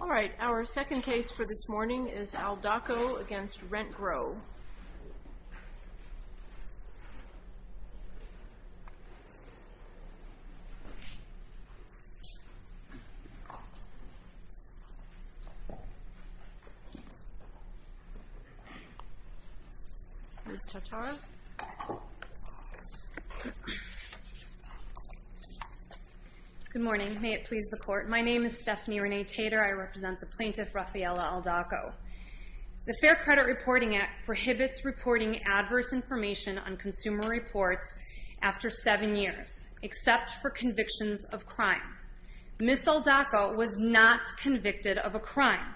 Alright, our second case for this morning is Aldaco v. Rentgrow. Ms. Tatar? Good morning. May it please the Court. My name is Stephanie Renee Tater. I represent the plaintiff, Rafaela Aldaco. The Fair Credit Reporting Act prohibits reporting adverse information on consumer reports after seven years, except for convictions of crime. Ms. Aldaco was not convicted of a crime.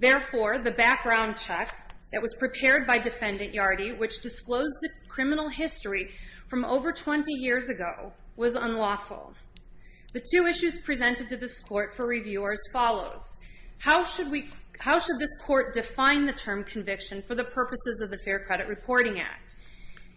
Therefore, the background check that was prepared by Defendant Yardy, which disclosed criminal history from over 20 years ago, was unlawful. The two issues presented to this Court for review are as follows. How should this Court define the term conviction for the purposes of the Fair Credit Reporting Act?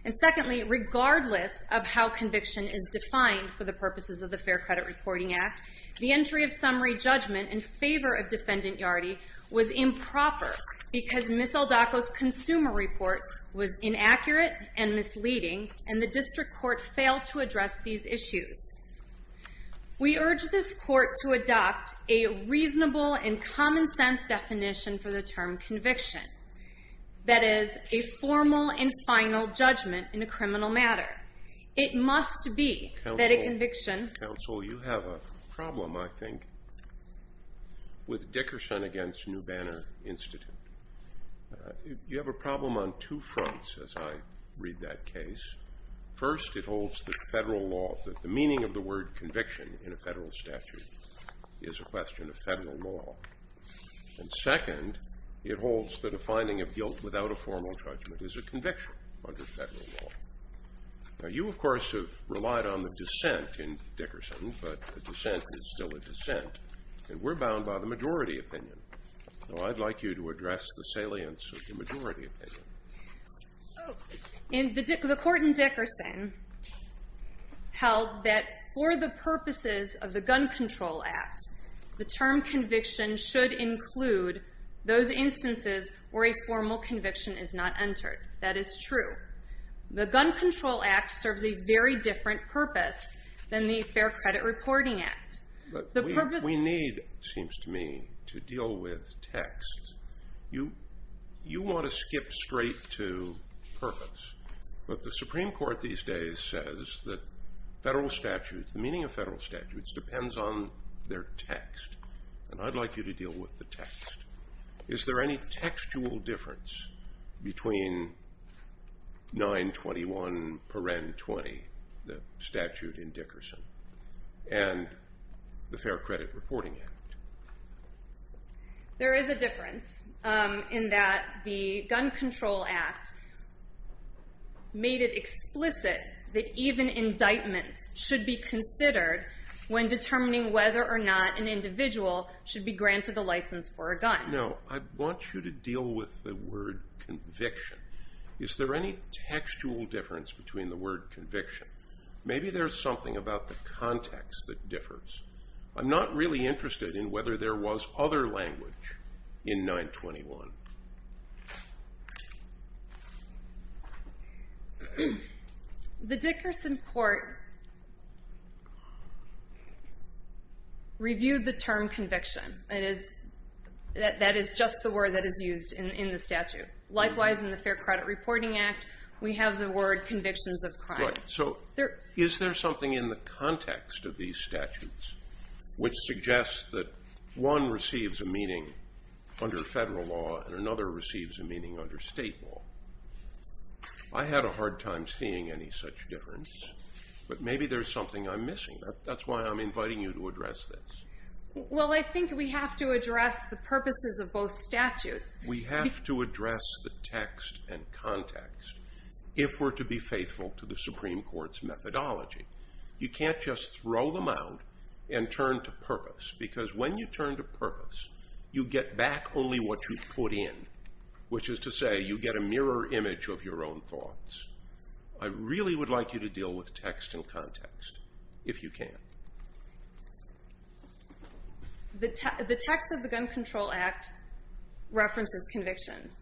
And secondly, regardless of how conviction is defined for the purposes of the Fair Credit Reporting Act, the entry of summary judgment in favor of Defendant Yardy was improper because Ms. Aldaco's consumer report was inaccurate and misleading, and the District Court failed to address these issues. We urge this Court to adopt a reasonable and common-sense definition for the term conviction. That is, a formal and final judgment in a criminal matter. It must be that a conviction... Counsel, you have a problem, I think, with Dickerson v. New Banner Institute. You have a problem on two fronts as I read that case. First, it holds that federal law, that the meaning of the word conviction in a federal statute is a question of federal law. And second, it holds that a finding of guilt without a formal judgment is a conviction under federal law. Now, you, of course, have relied on the dissent in Dickerson, but the dissent is still a dissent, and we're bound by the majority opinion. So I'd like you to address the salience of the majority opinion. The court in Dickerson held that for the purposes of the Gun Control Act, the term conviction should include those instances where a formal conviction is not entered. That is true. The Gun Control Act serves a very different purpose than the Fair Credit Reporting Act. We need, it seems to me, to deal with texts. You want to skip straight to purpose. But the Supreme Court these days says that federal statutes, the meaning of federal statutes, depends on their text. And I'd like you to deal with the text. Is there any textual difference between 921 paren 20, the statute in Dickerson? And the Fair Credit Reporting Act? There is a difference in that the Gun Control Act made it explicit that even indictments should be considered when determining whether or not an individual should be granted a license for a gun. Now, I want you to deal with the word conviction. Is there any textual difference between the word conviction? Maybe there's something about the context that differs. I'm not really interested in whether there was other language in 921. The Dickerson court reviewed the term conviction. That is just the word that is used in the statute. Likewise, in the Fair Credit Reporting Act, we have the word convictions of crime. Right. So is there something in the context of these statutes which suggests that one receives a meaning under federal law and another receives a meaning under state law? I had a hard time seeing any such difference. But maybe there's something I'm missing. That's why I'm inviting you to address this. Well, I think we have to address the purposes of both statutes. We have to address the text and context if we're to be faithful to the Supreme Court's methodology. You can't just throw them out and turn to purpose, because when you turn to purpose, you get back only what you put in, which is to say you get a mirror image of your own thoughts. I really would like you to deal with text and context, if you can. The text of the Gun Control Act references convictions.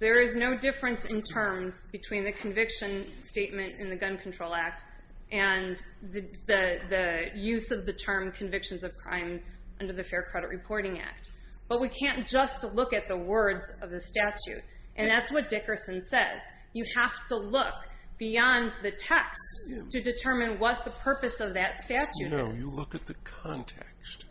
There is no difference in terms between the conviction statement in the Gun Control Act and the use of the term convictions of crime under the Fair Credit Reporting Act. But we can't just look at the words of the statute. And that's what Dickerson says. You have to look beyond the text to determine what the purpose of that statute is. No, you look at the context.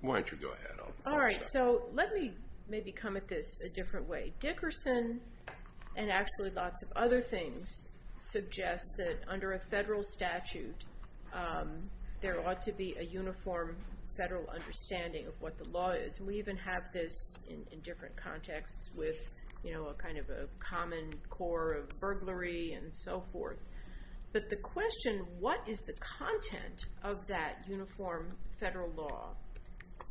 Why don't you go ahead? All right, so let me maybe come at this a different way. Dickerson and actually lots of other things suggest that under a federal statute, there ought to be a uniform federal understanding of what the law is. And we even have this in different contexts with a kind of a common core of burglary and so forth. But the question, what is the content of that uniform federal law,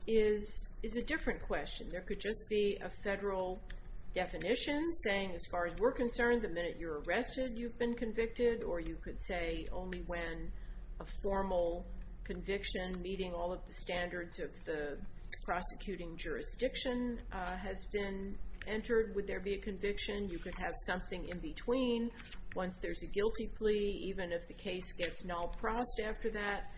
is a different question. There could just be a federal definition saying, as far as we're concerned, the minute you're arrested, you've been convicted. Or you could say, only when a formal conviction meeting all of the standards of the prosecuting jurisdiction has been entered would there be a conviction. You could have something in between. Once there's a guilty plea, even if the case gets null prost after that,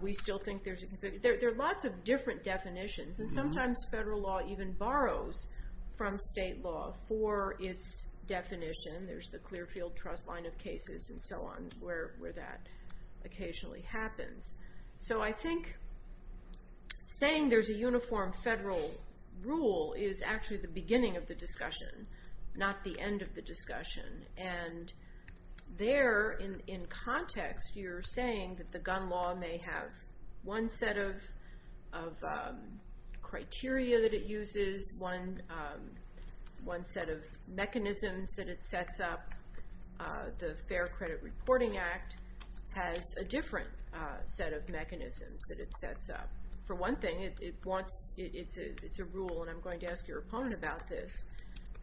we still think there's a conviction. There are lots of different definitions. And sometimes federal law even borrows from state law for its definition. There's the Clearfield Trust line of cases and so on where that occasionally happens. So I think saying there's a uniform federal rule is actually the beginning of the discussion, not the end of the discussion. And there, in context, you're saying that the gun law may have one set of criteria that it uses, one set of mechanisms that it sets up. The Fair Credit Reporting Act has a different set of mechanisms that it sets up. For one thing, it's a rule, and I'm going to ask your opponent about this,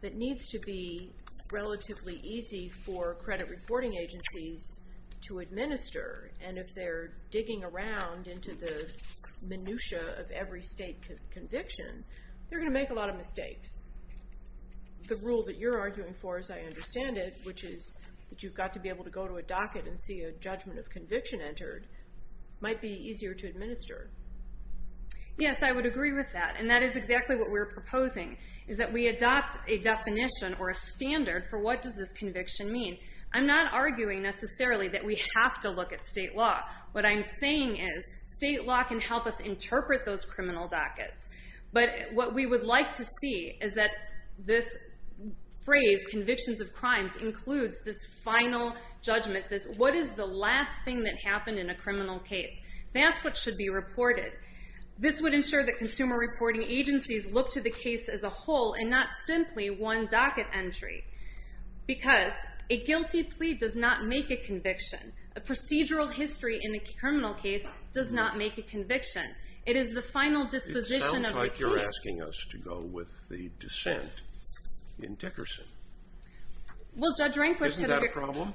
that needs to be relatively easy for credit reporting agencies to administer. And if they're digging around into the minutia of every state conviction, they're going to make a lot of mistakes. The rule that you're arguing for, as I understand it, which is that you've got to be able to go to a docket and see a judgment of conviction entered, might be easier to administer. Yes, I would agree with that. And that is exactly what we're proposing, is that we adopt a definition or a standard for what does this conviction mean. I'm not arguing necessarily that we have to look at state law. What I'm saying is state law can help us interpret those criminal dockets. But what we would like to see is that this phrase, convictions of crimes, includes this final judgment. What is the last thing that happened in a criminal case? That's what should be reported. This would ensure that consumer reporting agencies look to the case as a whole and not simply one docket entry. Because a guilty plea does not make a conviction. A procedural history in a criminal case does not make a conviction. It is the final disposition of the plea. It sounds like you're asking us to go with the dissent in Dickerson. Isn't that a problem?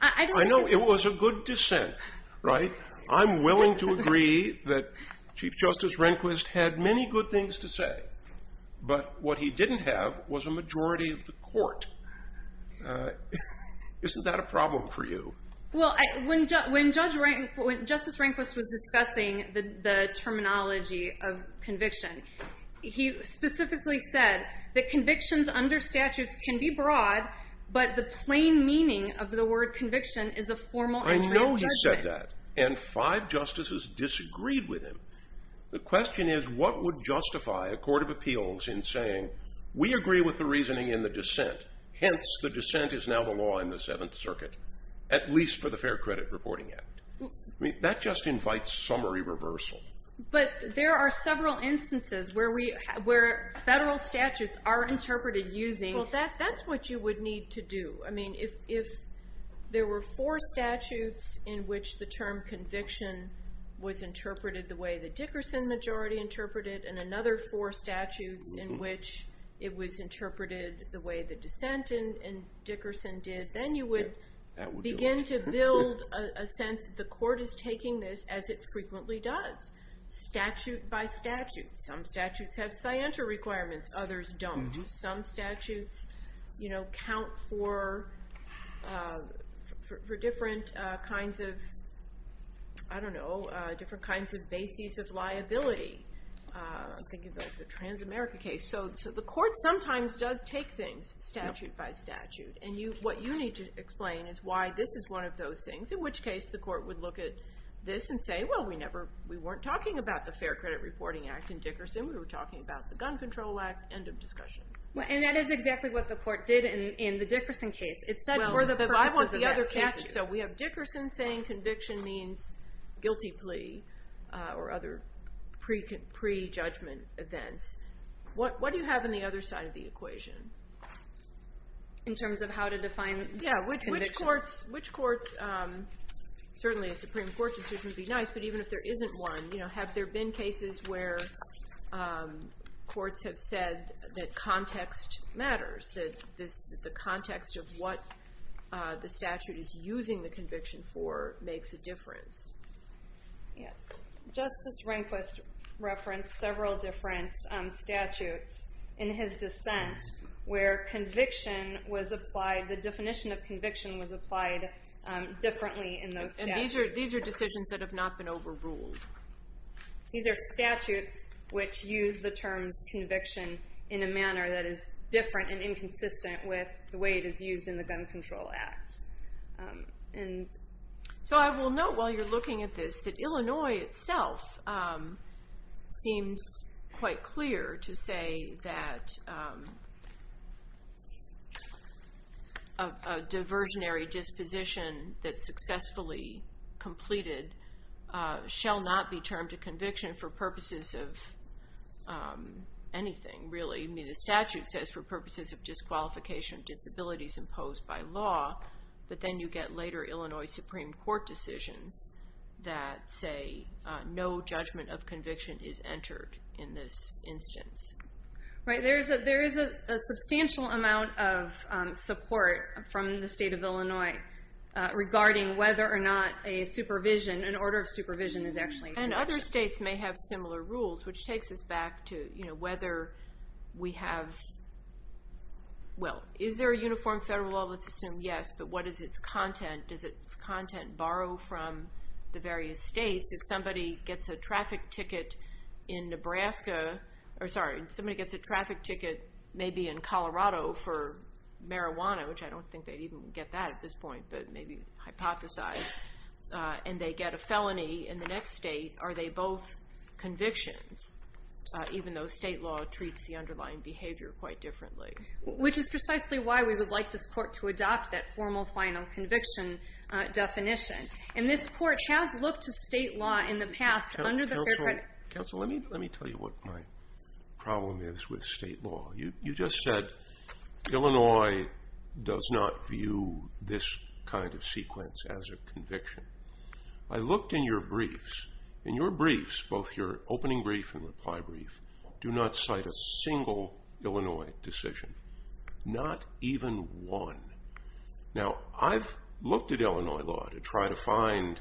I know it was a good dissent, right? I'm willing to agree that Chief Justice Rehnquist had many good things to say. But what he didn't have was a majority of the court. Isn't that a problem for you? Well, when Justice Rehnquist was discussing the terminology of conviction, he specifically said that convictions under statutes can be broad, but the plain meaning of the word conviction is a formal entry of judgment. I know he said that. And five justices disagreed with him. The question is, what would justify a court of appeals in saying, we agree with the reasoning in the dissent, hence the dissent is now the law in the Seventh Circuit, at least for the Fair Credit Reporting Act? That just invites summary reversal. But there are several instances where federal statutes are interpreted using Well, that's what you would need to do. I mean, if there were four statutes in which the term conviction was interpreted the way the Dickerson majority interpreted and another four statutes in which it was interpreted the way the dissent in Dickerson did, then you would begin to build a sense that the court is taking this as it frequently does. Statute by statute. Some statutes have scienter requirements. Others don't. Some statutes count for different kinds of bases of liability. Think of the trans-America case. So the court sometimes does take things statute by statute. And what you need to explain is why this is one of those things, in which case the court would look at this and say, well, we weren't talking about the Fair Credit Reporting Act in Dickerson. We were talking about the Gun Control Act. End of discussion. And that is exactly what the court did in the Dickerson case. It said for the purposes of that statute. I want the other cases. So we have Dickerson saying conviction means guilty plea or other pre-judgment events. What do you have on the other side of the equation? In terms of how to define conviction? Yeah, which courts, certainly a Supreme Court decision would be nice, but even if there isn't one, have there been cases where courts have said that context matters, that the context of what the statute is using the conviction for makes a difference? Yes. Justice Rehnquist referenced several different statutes in his dissent where conviction was applied, the definition of conviction was applied differently in those statutes. And these are decisions that have not been overruled. These are statutes which use the terms conviction in a manner that is different and inconsistent with the way it is used in the Gun Control Act. So I will note while you're looking at this that Illinois itself seems quite clear to say that a diversionary disposition that's successfully completed shall not be termed a conviction for purposes of anything, really. The statute says for purposes of disqualification of disabilities imposed by law, but then you get later Illinois Supreme Court decisions that say no judgment of conviction is entered in this instance. Right. There is a substantial amount of support from the state of Illinois regarding whether or not a supervision, an order of supervision is actually a conviction. And other states may have similar rules, which takes us back to whether we have, well, is there a uniform federal law? Let's assume yes, but what is its content? Does its content borrow from the various states? If somebody gets a traffic ticket in Nebraska, or sorry, if somebody gets a traffic ticket maybe in Colorado for marijuana, which I don't think they'd even get that at this point, but maybe hypothesize, and they get a felony in the next state, are they both convictions, even though state law treats the underlying behavior quite differently? Which is precisely why we would like this court to adopt that formal final conviction definition. And this court has looked to state law in the past under the Fair Credit. Counsel, let me tell you what my problem is with state law. You just said Illinois does not view this kind of sequence as a conviction. I looked in your briefs, and your briefs, both your opening brief and reply brief, do not cite a single Illinois decision, not even one. Now, I've looked at Illinois law to try to find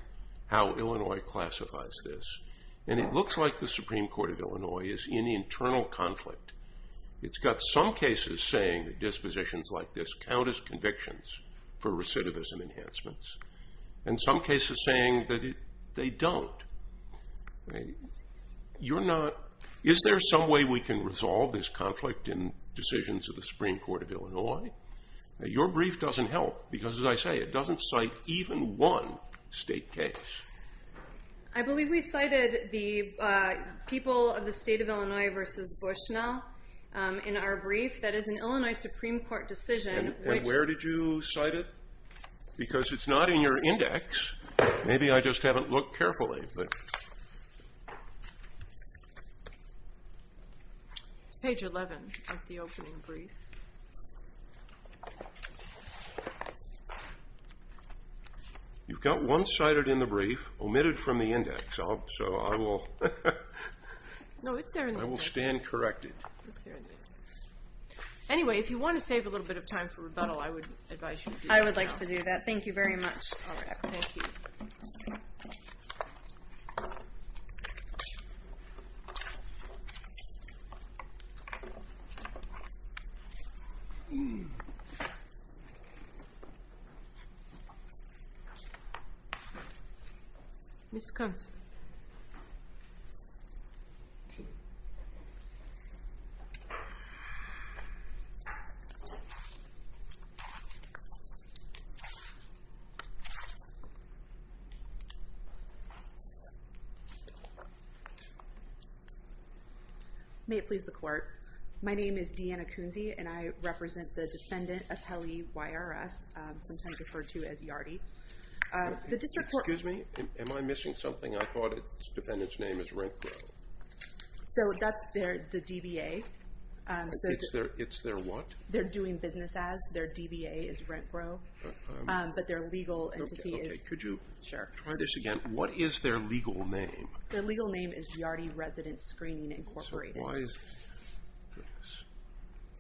how Illinois classifies this, and it looks like the Supreme Court of Illinois is in internal conflict. It's got some cases saying that dispositions like this count as convictions for recidivism enhancements, and some cases saying that they don't. Is there some way we can resolve this conflict in decisions of the Supreme Court of Illinois? Your brief doesn't help because, as I say, it doesn't cite even one state case. I believe we cited the people of the state of Illinois versus Bushnell in our brief. That is an Illinois Supreme Court decision. And where did you cite it? Because it's not in your index. Maybe I just haven't looked carefully. It's page 11 of the opening brief. You've got one cited in the brief omitted from the index, so I will stand corrected. Anyway, if you want to save a little bit of time for rebuttal, I would advise you do that. I would like to do that. Thank you very much. All right, thank you. Thank you. Thank you. Thank you. May it please the Court. My name is Deanna Kunze, and I represent the defendant, Apelli YRS, sometimes referred to as Yardi. Excuse me? Am I missing something? I thought the defendant's name is RentGrow. So that's the DBA. It's their what? They're doing business as. Their DBA is RentGrow. But their legal entity is. Okay, could you try this again? What is their legal name? Their legal name is Yardi Resident Screening Incorporated. So why is this?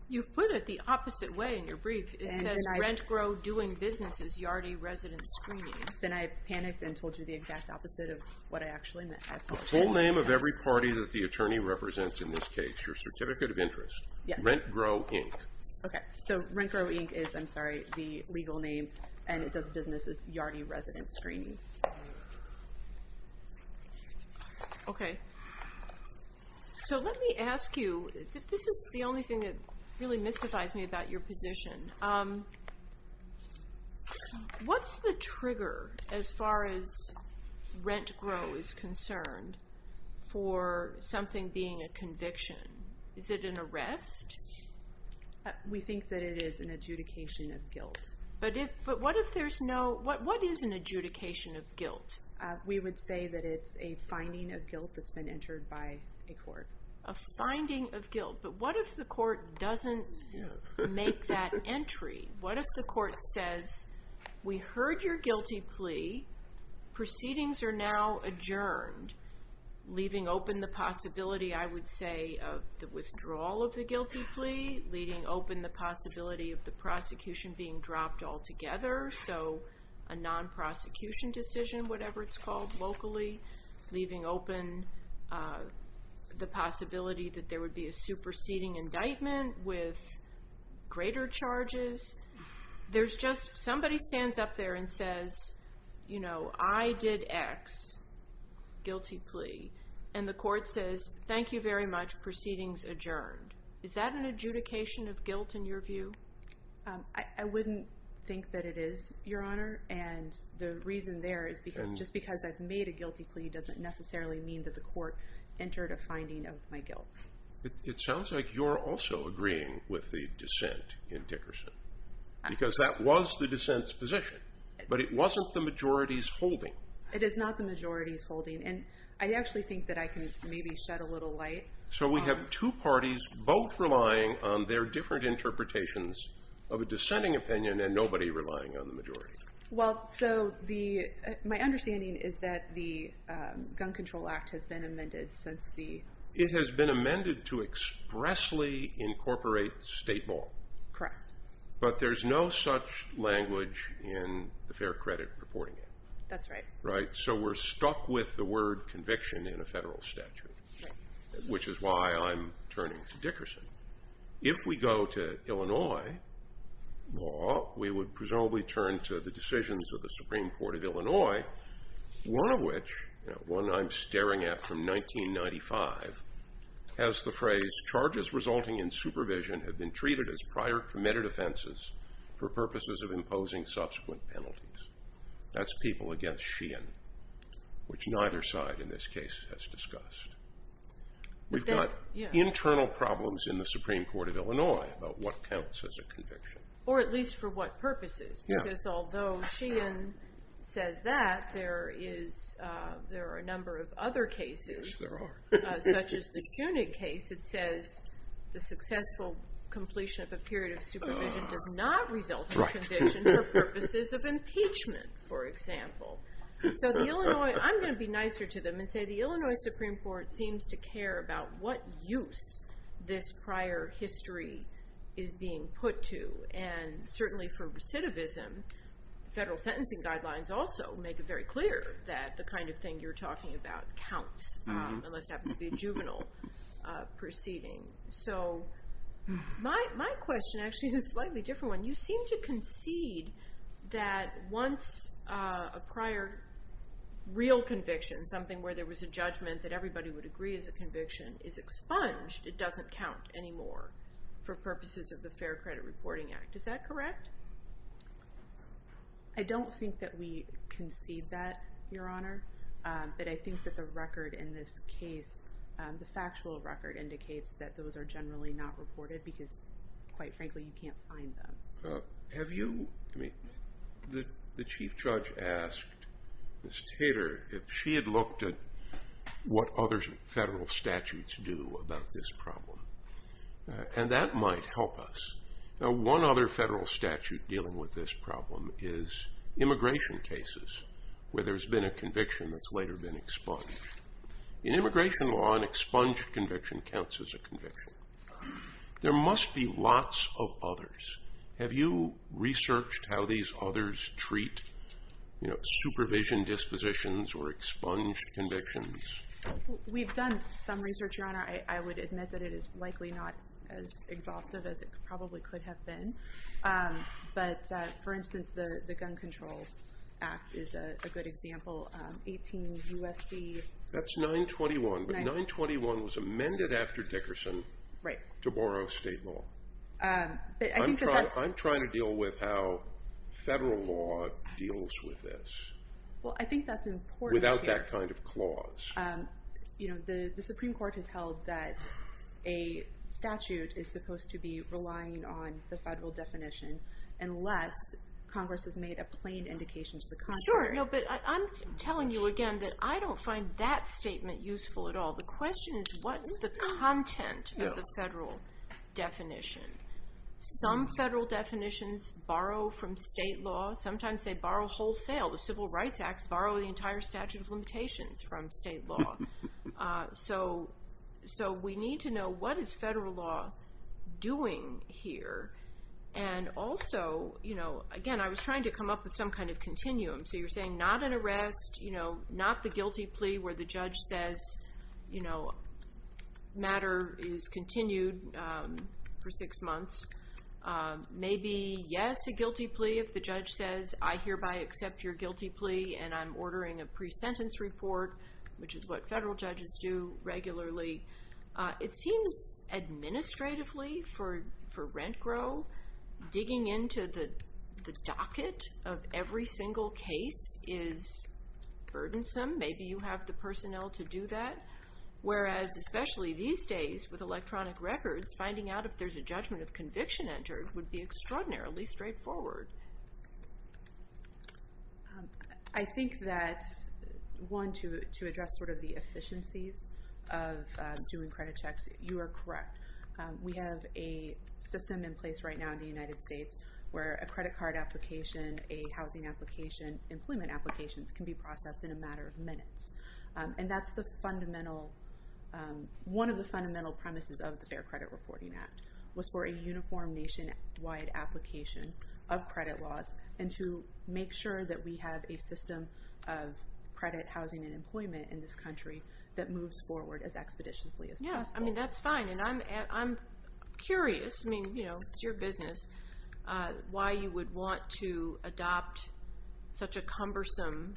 You've put it the opposite way in your brief. It says RentGrow doing business as Yardi Resident Screening. Then I panicked and told you the exact opposite of what I actually meant. The full name of every party that the attorney represents in this case, your certificate of interest. Yes. RentGrow Inc. Okay, so RentGrow Inc. is, I'm sorry, the legal name, and it does business as Yardi Resident Screening. Okay. So let me ask you, this is the only thing that really mystifies me about your position. What's the trigger as far as RentGrow is concerned for something being a conviction? Is it an arrest? We think that it is an adjudication of guilt. But what if there's no, what is an adjudication of guilt? We would say that it's a finding of guilt that's been entered by a court. A finding of guilt. But what if the court doesn't make that entry? What if the court says, we heard your guilty plea. Proceedings are now adjourned. Leaving open the possibility, I would say, of the withdrawal of the guilty plea. Leading open the possibility of the prosecution being dropped altogether. So a non-prosecution decision, whatever it's called, locally. Leaving open the possibility that there would be a superseding indictment with greater charges. There's just, somebody stands up there and says, you know, I did X, guilty plea. And the court says, thank you very much. Proceedings adjourned. Is that an adjudication of guilt in your view? I wouldn't think that it is, Your Honor. And the reason there is just because I've made a guilty plea doesn't necessarily mean that the court entered a finding of my guilt. It sounds like you're also agreeing with the dissent in Dickerson. Because that was the dissent's position. But it wasn't the majority's holding. It is not the majority's holding. And I actually think that I can maybe shed a little light. So we have two parties both relying on their different interpretations of a dissenting opinion and nobody relying on the majority. Well, so my understanding is that the Gun Control Act has been amended since the It has been amended to expressly incorporate state law. Correct. But there's no such language in the Fair Credit Reporting Act. That's right. So we're stuck with the word conviction in a federal statute, which is why I'm turning to Dickerson. If we go to Illinois law, we would presumably turn to the decisions of the Supreme Court of Illinois, one of which, one I'm staring at from 1995, has the phrase, charges resulting in supervision have been treated as prior committed offenses for purposes of imposing subsequent penalties. That's people against Sheehan, which neither side in this case has discussed. We've got internal problems in the Supreme Court of Illinois about what counts as a conviction. Or at least for what purposes. Because although Sheehan says that, there are a number of other cases. Yes, there are. Such as the Sunig case that says the successful completion of a period of supervision does not result in conviction for purposes of impeachment, for example. So the Illinois, I'm going to be nicer to them and say the Illinois Supreme Court seems to care about what use this prior history is being put to. And certainly for recidivism, federal sentencing guidelines also make it very clear that the kind of thing you're talking about counts. Unless it happens to be a juvenile proceeding. So my question actually is a slightly different one. You seem to concede that once a prior real conviction, something where there was a judgment that everybody would agree is a conviction, is expunged, it doesn't count anymore for purposes of the Fair Credit Reporting Act. Is that correct? I don't think that we concede that, Your Honor. But I think that the record in this case, the factual record, indicates that those are generally not reported because, quite frankly, you can't find them. Have you, I mean, the Chief Judge asked Ms. Tater if she had looked at what other federal statutes do about this problem. And that might help us. Now, one other federal statute dealing with this problem is immigration cases where there's been a conviction that's later been expunged. In immigration law, an expunged conviction counts as a conviction. There must be lots of others. Have you researched how these others treat supervision dispositions or expunged convictions? We've done some research, Your Honor. I would admit that it is likely not as exhaustive as it probably could have been. But, for instance, the Gun Control Act is a good example. 18 U.S.C. That's 921. But 921 was amended after Dickerson to borrow state law. I'm trying to deal with how federal law deals with this. Well, I think that's important. Without that kind of clause. You know, the Supreme Court has held that a statute is supposed to be relying on the federal definition unless Congress has made a plain indication to the contrary. Sure. No, but I'm telling you again that I don't find that statement useful at all. The question is what's the content of the federal definition. Some federal definitions borrow from state law. Sometimes they borrow wholesale. The Civil Rights Act borrow the entire statute of limitations from state law. So we need to know what is federal law doing here. And also, you know, again, I was trying to come up with some kind of continuum. So you're saying not an arrest, you know, not the guilty plea where the judge says, you know, matter is continued for six months. Maybe, yes, a guilty plea if the judge says, I hereby accept your guilty plea and I'm ordering a pre-sentence report, which is what federal judges do regularly. It seems administratively for rent grow, digging into the docket of every single case is burdensome. Maybe you have the personnel to do that. Whereas especially these days with electronic records, finding out if there's a judgment of conviction entered would be extraordinarily straightforward. I think that one, to address sort of the efficiencies of doing credit checks, you are correct. We have a system in place right now in the United States where a credit card application, a housing application, employment applications can be processed in a matter of minutes. And that's the fundamental, one of the fundamental premises of the Fair Credit Reporting Act was for a uniform nationwide application of credit laws and to make sure that we have a system of credit, housing, and employment in this country that moves forward as expeditiously as possible. Yes, I mean, that's fine. And I'm curious, I mean, you know, it's your business, why you would want to adopt such a cumbersome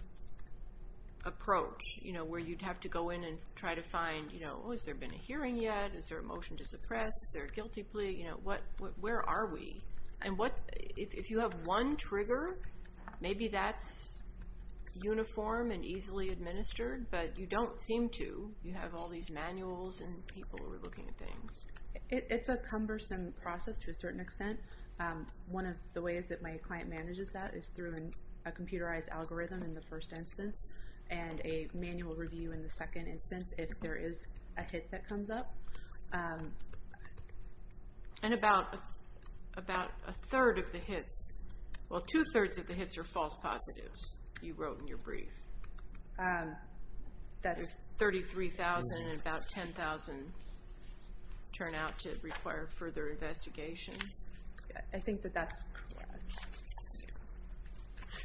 approach, you know, where you'd have to go in and try to find, you know, oh, has there been a hearing yet? Is there a motion to suppress? Is there a guilty plea? You know, what, where are we? And what, if you have one trigger, maybe that's uniform and easily administered, but you don't seem to. You have all these manuals and people who are looking at things. It's a cumbersome process to a certain extent. One of the ways that my client manages that is through a computerized algorithm in the first instance and a manual review in the second instance if there is a hit that comes up. And about a third of the hits, well, two-thirds of the hits are false positives you wrote in your brief. That's 33,000 and about 10,000 turn out to require further investigation. I think that that's correct.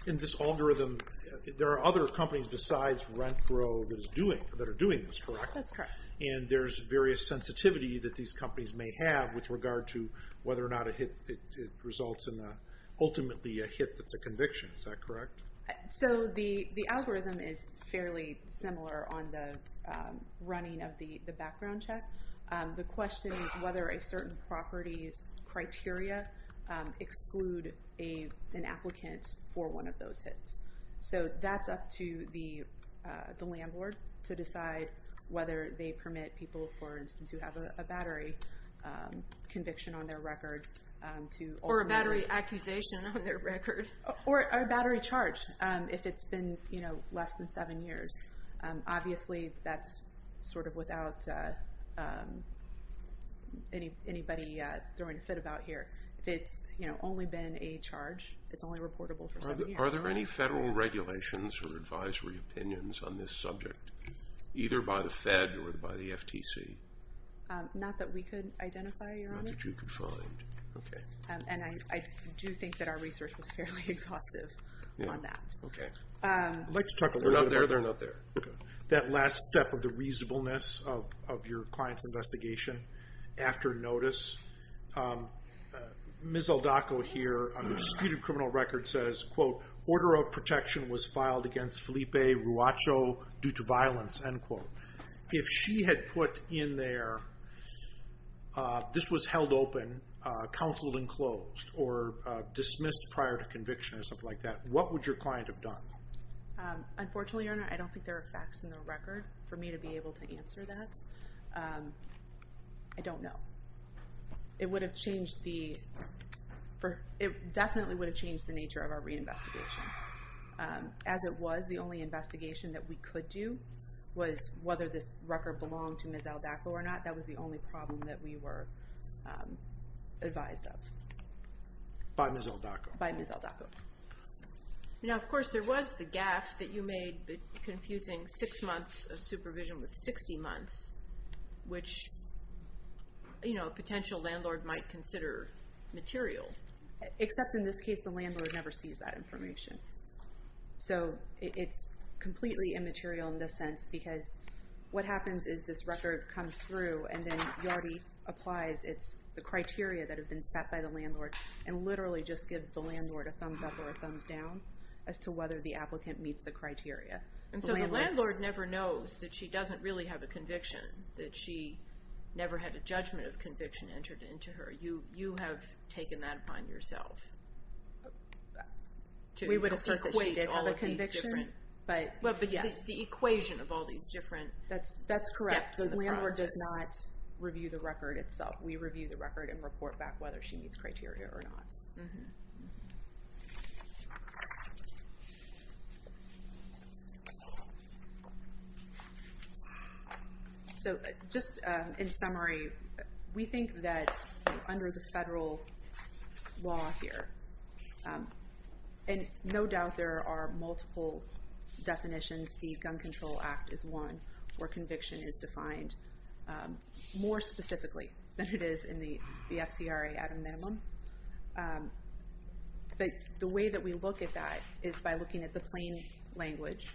In this algorithm, there are other companies besides RentGro that are doing this, correct? That's correct. And there's various sensitivity that these companies may have with regard to whether or not it results in ultimately a hit that's a conviction. Is that correct? So the algorithm is fairly similar on the running of the background check. The question is whether a certain property's criteria exclude an applicant for one of those hits. So that's up to the landlord to decide whether they permit people, for instance, who have a battery conviction on their record to ultimately— Or a battery accusation on their record. Or a battery charge if it's been less than seven years. Obviously, that's sort of without anybody throwing a fit about here. If it's only been a charge, it's only reportable for seven years. Are there any federal regulations or advisory opinions on this subject, either by the Fed or by the FTC? Not that we could identify, Your Honor. Not that you could find. Okay. And I do think that our research was fairly exhaustive on that. Okay. I'd like to talk a little bit about— They're not there. They're not there. That last step of the reasonableness of your client's investigation after notice. Ms. Aldaco here on the disputed criminal record says, quote, Order of protection was filed against Felipe Ruacho due to violence, end quote. If she had put in there, this was held open, counseled and closed, or dismissed prior to conviction or something like that, what would your client have done? Unfortunately, Your Honor, I don't think there are facts in the record for me to be able to answer that. I don't know. It would have changed the—it definitely would have changed the nature of our reinvestigation. As it was, the only investigation that we could do was whether this record belonged to Ms. Aldaco or not. That was the only problem that we were advised of. By Ms. Aldaco. By Ms. Aldaco. Now, of course, there was the gaffe that you made confusing six months of supervision with 60 months, which a potential landlord might consider material. Except in this case, the landlord never sees that information. So it's completely immaterial in this sense because what happens is this record comes through and then Yardi applies the criteria that have been set by the landlord and literally just gives the landlord a thumbs up or a thumbs down as to whether the applicant meets the criteria. And so the landlord never knows that she doesn't really have a conviction, that she never had a judgment of conviction entered into her. You have taken that upon yourself to equate all of these different— We would have said that she did have a conviction. Well, but the equation of all these different steps in the process. That's correct. The landlord does not review the record itself. We review the record and report back whether she meets criteria or not. So just in summary, we think that under the federal law here, and no doubt there are multiple definitions. The Gun Control Act is one where conviction is defined more specifically than it is in the FCRA at a minimum. But the way that we look at that is by looking at the plain language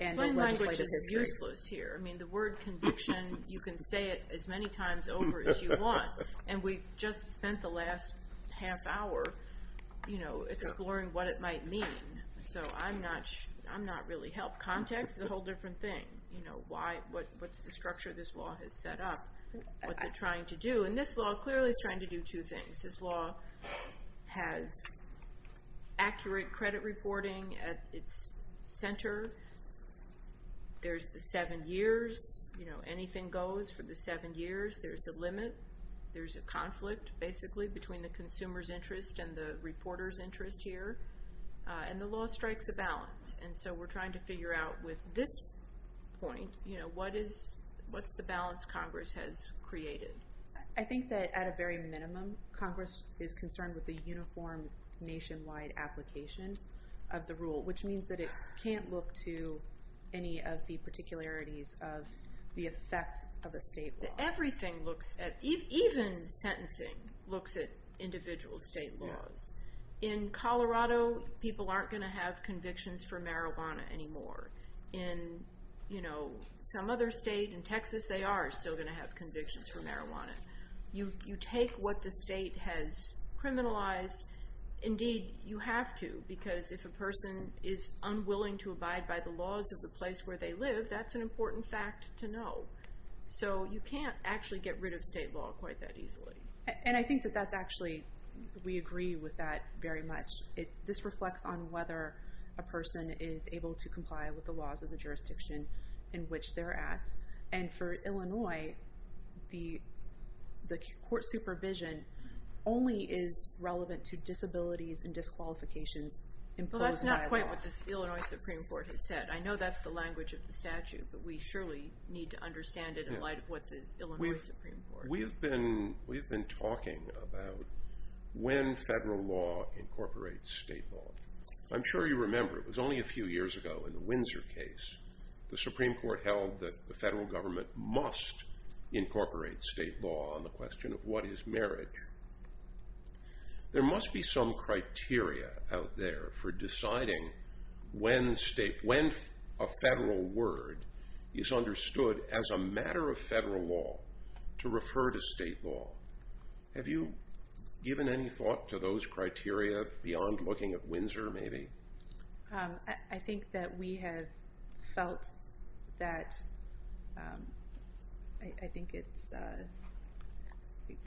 and the legislative history. Plain language is useless here. I mean, the word conviction, you can say it as many times over as you want. And we just spent the last half hour exploring what it might mean. So I'm not really helped. Context is a whole different thing. What's the structure this law has set up? What's it trying to do? And this law clearly is trying to do two things. This law has accurate credit reporting at its center. There's the seven years. You know, anything goes for the seven years. There's a limit. There's a conflict, basically, between the consumer's interest and the reporter's interest here. And the law strikes a balance. And so we're trying to figure out with this point, you know, what's the balance Congress has created? I think that at a very minimum, Congress is concerned with the uniform nationwide application of the rule, which means that it can't look to any of the particularities of the effect of a state law. Everything looks at, even sentencing, looks at individual state laws. In Colorado, people aren't going to have convictions for marijuana anymore. In, you know, some other state, in Texas, they are still going to have convictions for marijuana. You take what the state has criminalized. Indeed, you have to, because if a person is unwilling to abide by the laws of the place where they live, that's an important fact to know. So you can't actually get rid of state law quite that easily. And I think that that's actually, we agree with that very much. This reflects on whether a person is able to comply with the laws of the jurisdiction in which they're at. And for Illinois, the court supervision only is relevant to disabilities and disqualifications imposed by law. Well, that's not quite what the Illinois Supreme Court has said. I know that's the language of the statute, but we surely need to understand it in light of what the Illinois Supreme Court has said. We have been talking about when federal law incorporates state law. I'm sure you remember, it was only a few years ago in the Windsor case, the Supreme Court held that the federal government must incorporate state law on the question of what is marriage. There must be some criteria out there for deciding when a federal word is understood as a matter of federal law to refer to state law. Have you given any thought to those criteria beyond looking at Windsor, maybe? I think that we have felt that, I think it's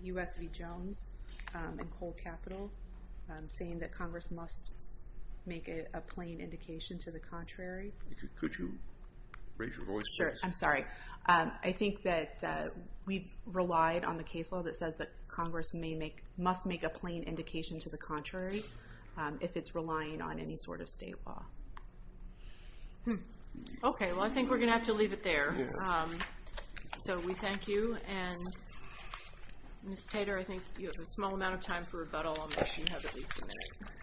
U.S. v. Jones and Coal Capital, saying that Congress must make a plain indication to the contrary. Could you raise your voice? I'm sorry. I think that we've relied on the case law that says that Congress must make a plain indication to the contrary if it's relying on any sort of state law. Okay, well I think we're going to have to leave it there. So we thank you. And Ms. Tater, I think you have a small amount of time for rebuttal. I'll make sure you have at least a minute.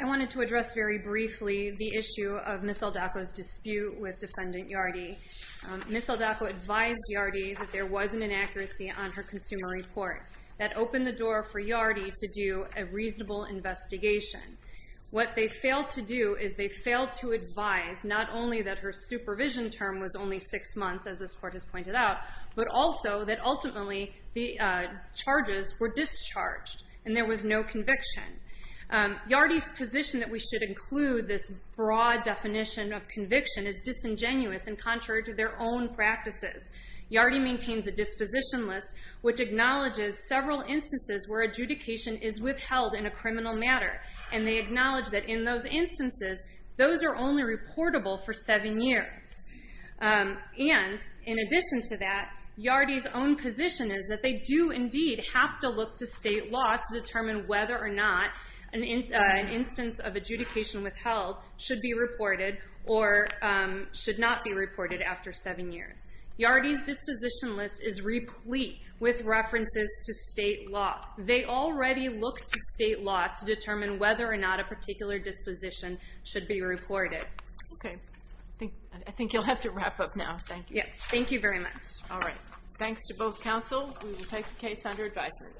I wanted to address very briefly the issue of Ms. Saldaco's dispute with Defendant Yardy. Ms. Saldaco advised Yardy that there was an inaccuracy on her consumer report that opened the door for Yardy to do a reasonable investigation. What they failed to do is they failed to advise not only that her supervision term was only six months, as this Court has pointed out, but also that ultimately the charges were discharged and there was no conviction. Yardy's position that we should include this broad definition of conviction is disingenuous and contrary to their own practices. Yardy maintains a disposition list which acknowledges several instances where adjudication is withheld in a criminal matter. And they acknowledge that in those instances, those are only reportable for seven years. And in addition to that, Yardy's own position is that they do indeed have to look to state law to determine whether or not an instance of adjudication withheld should be reported or should not be reported after seven years. Yardy's disposition list is replete with references to state law. They already look to state law to determine whether or not a particular disposition should be reported. Okay, I think you'll have to wrap up now. Thank you. Thank you very much. All right. Thanks to both counsel. We will take the case under advisory.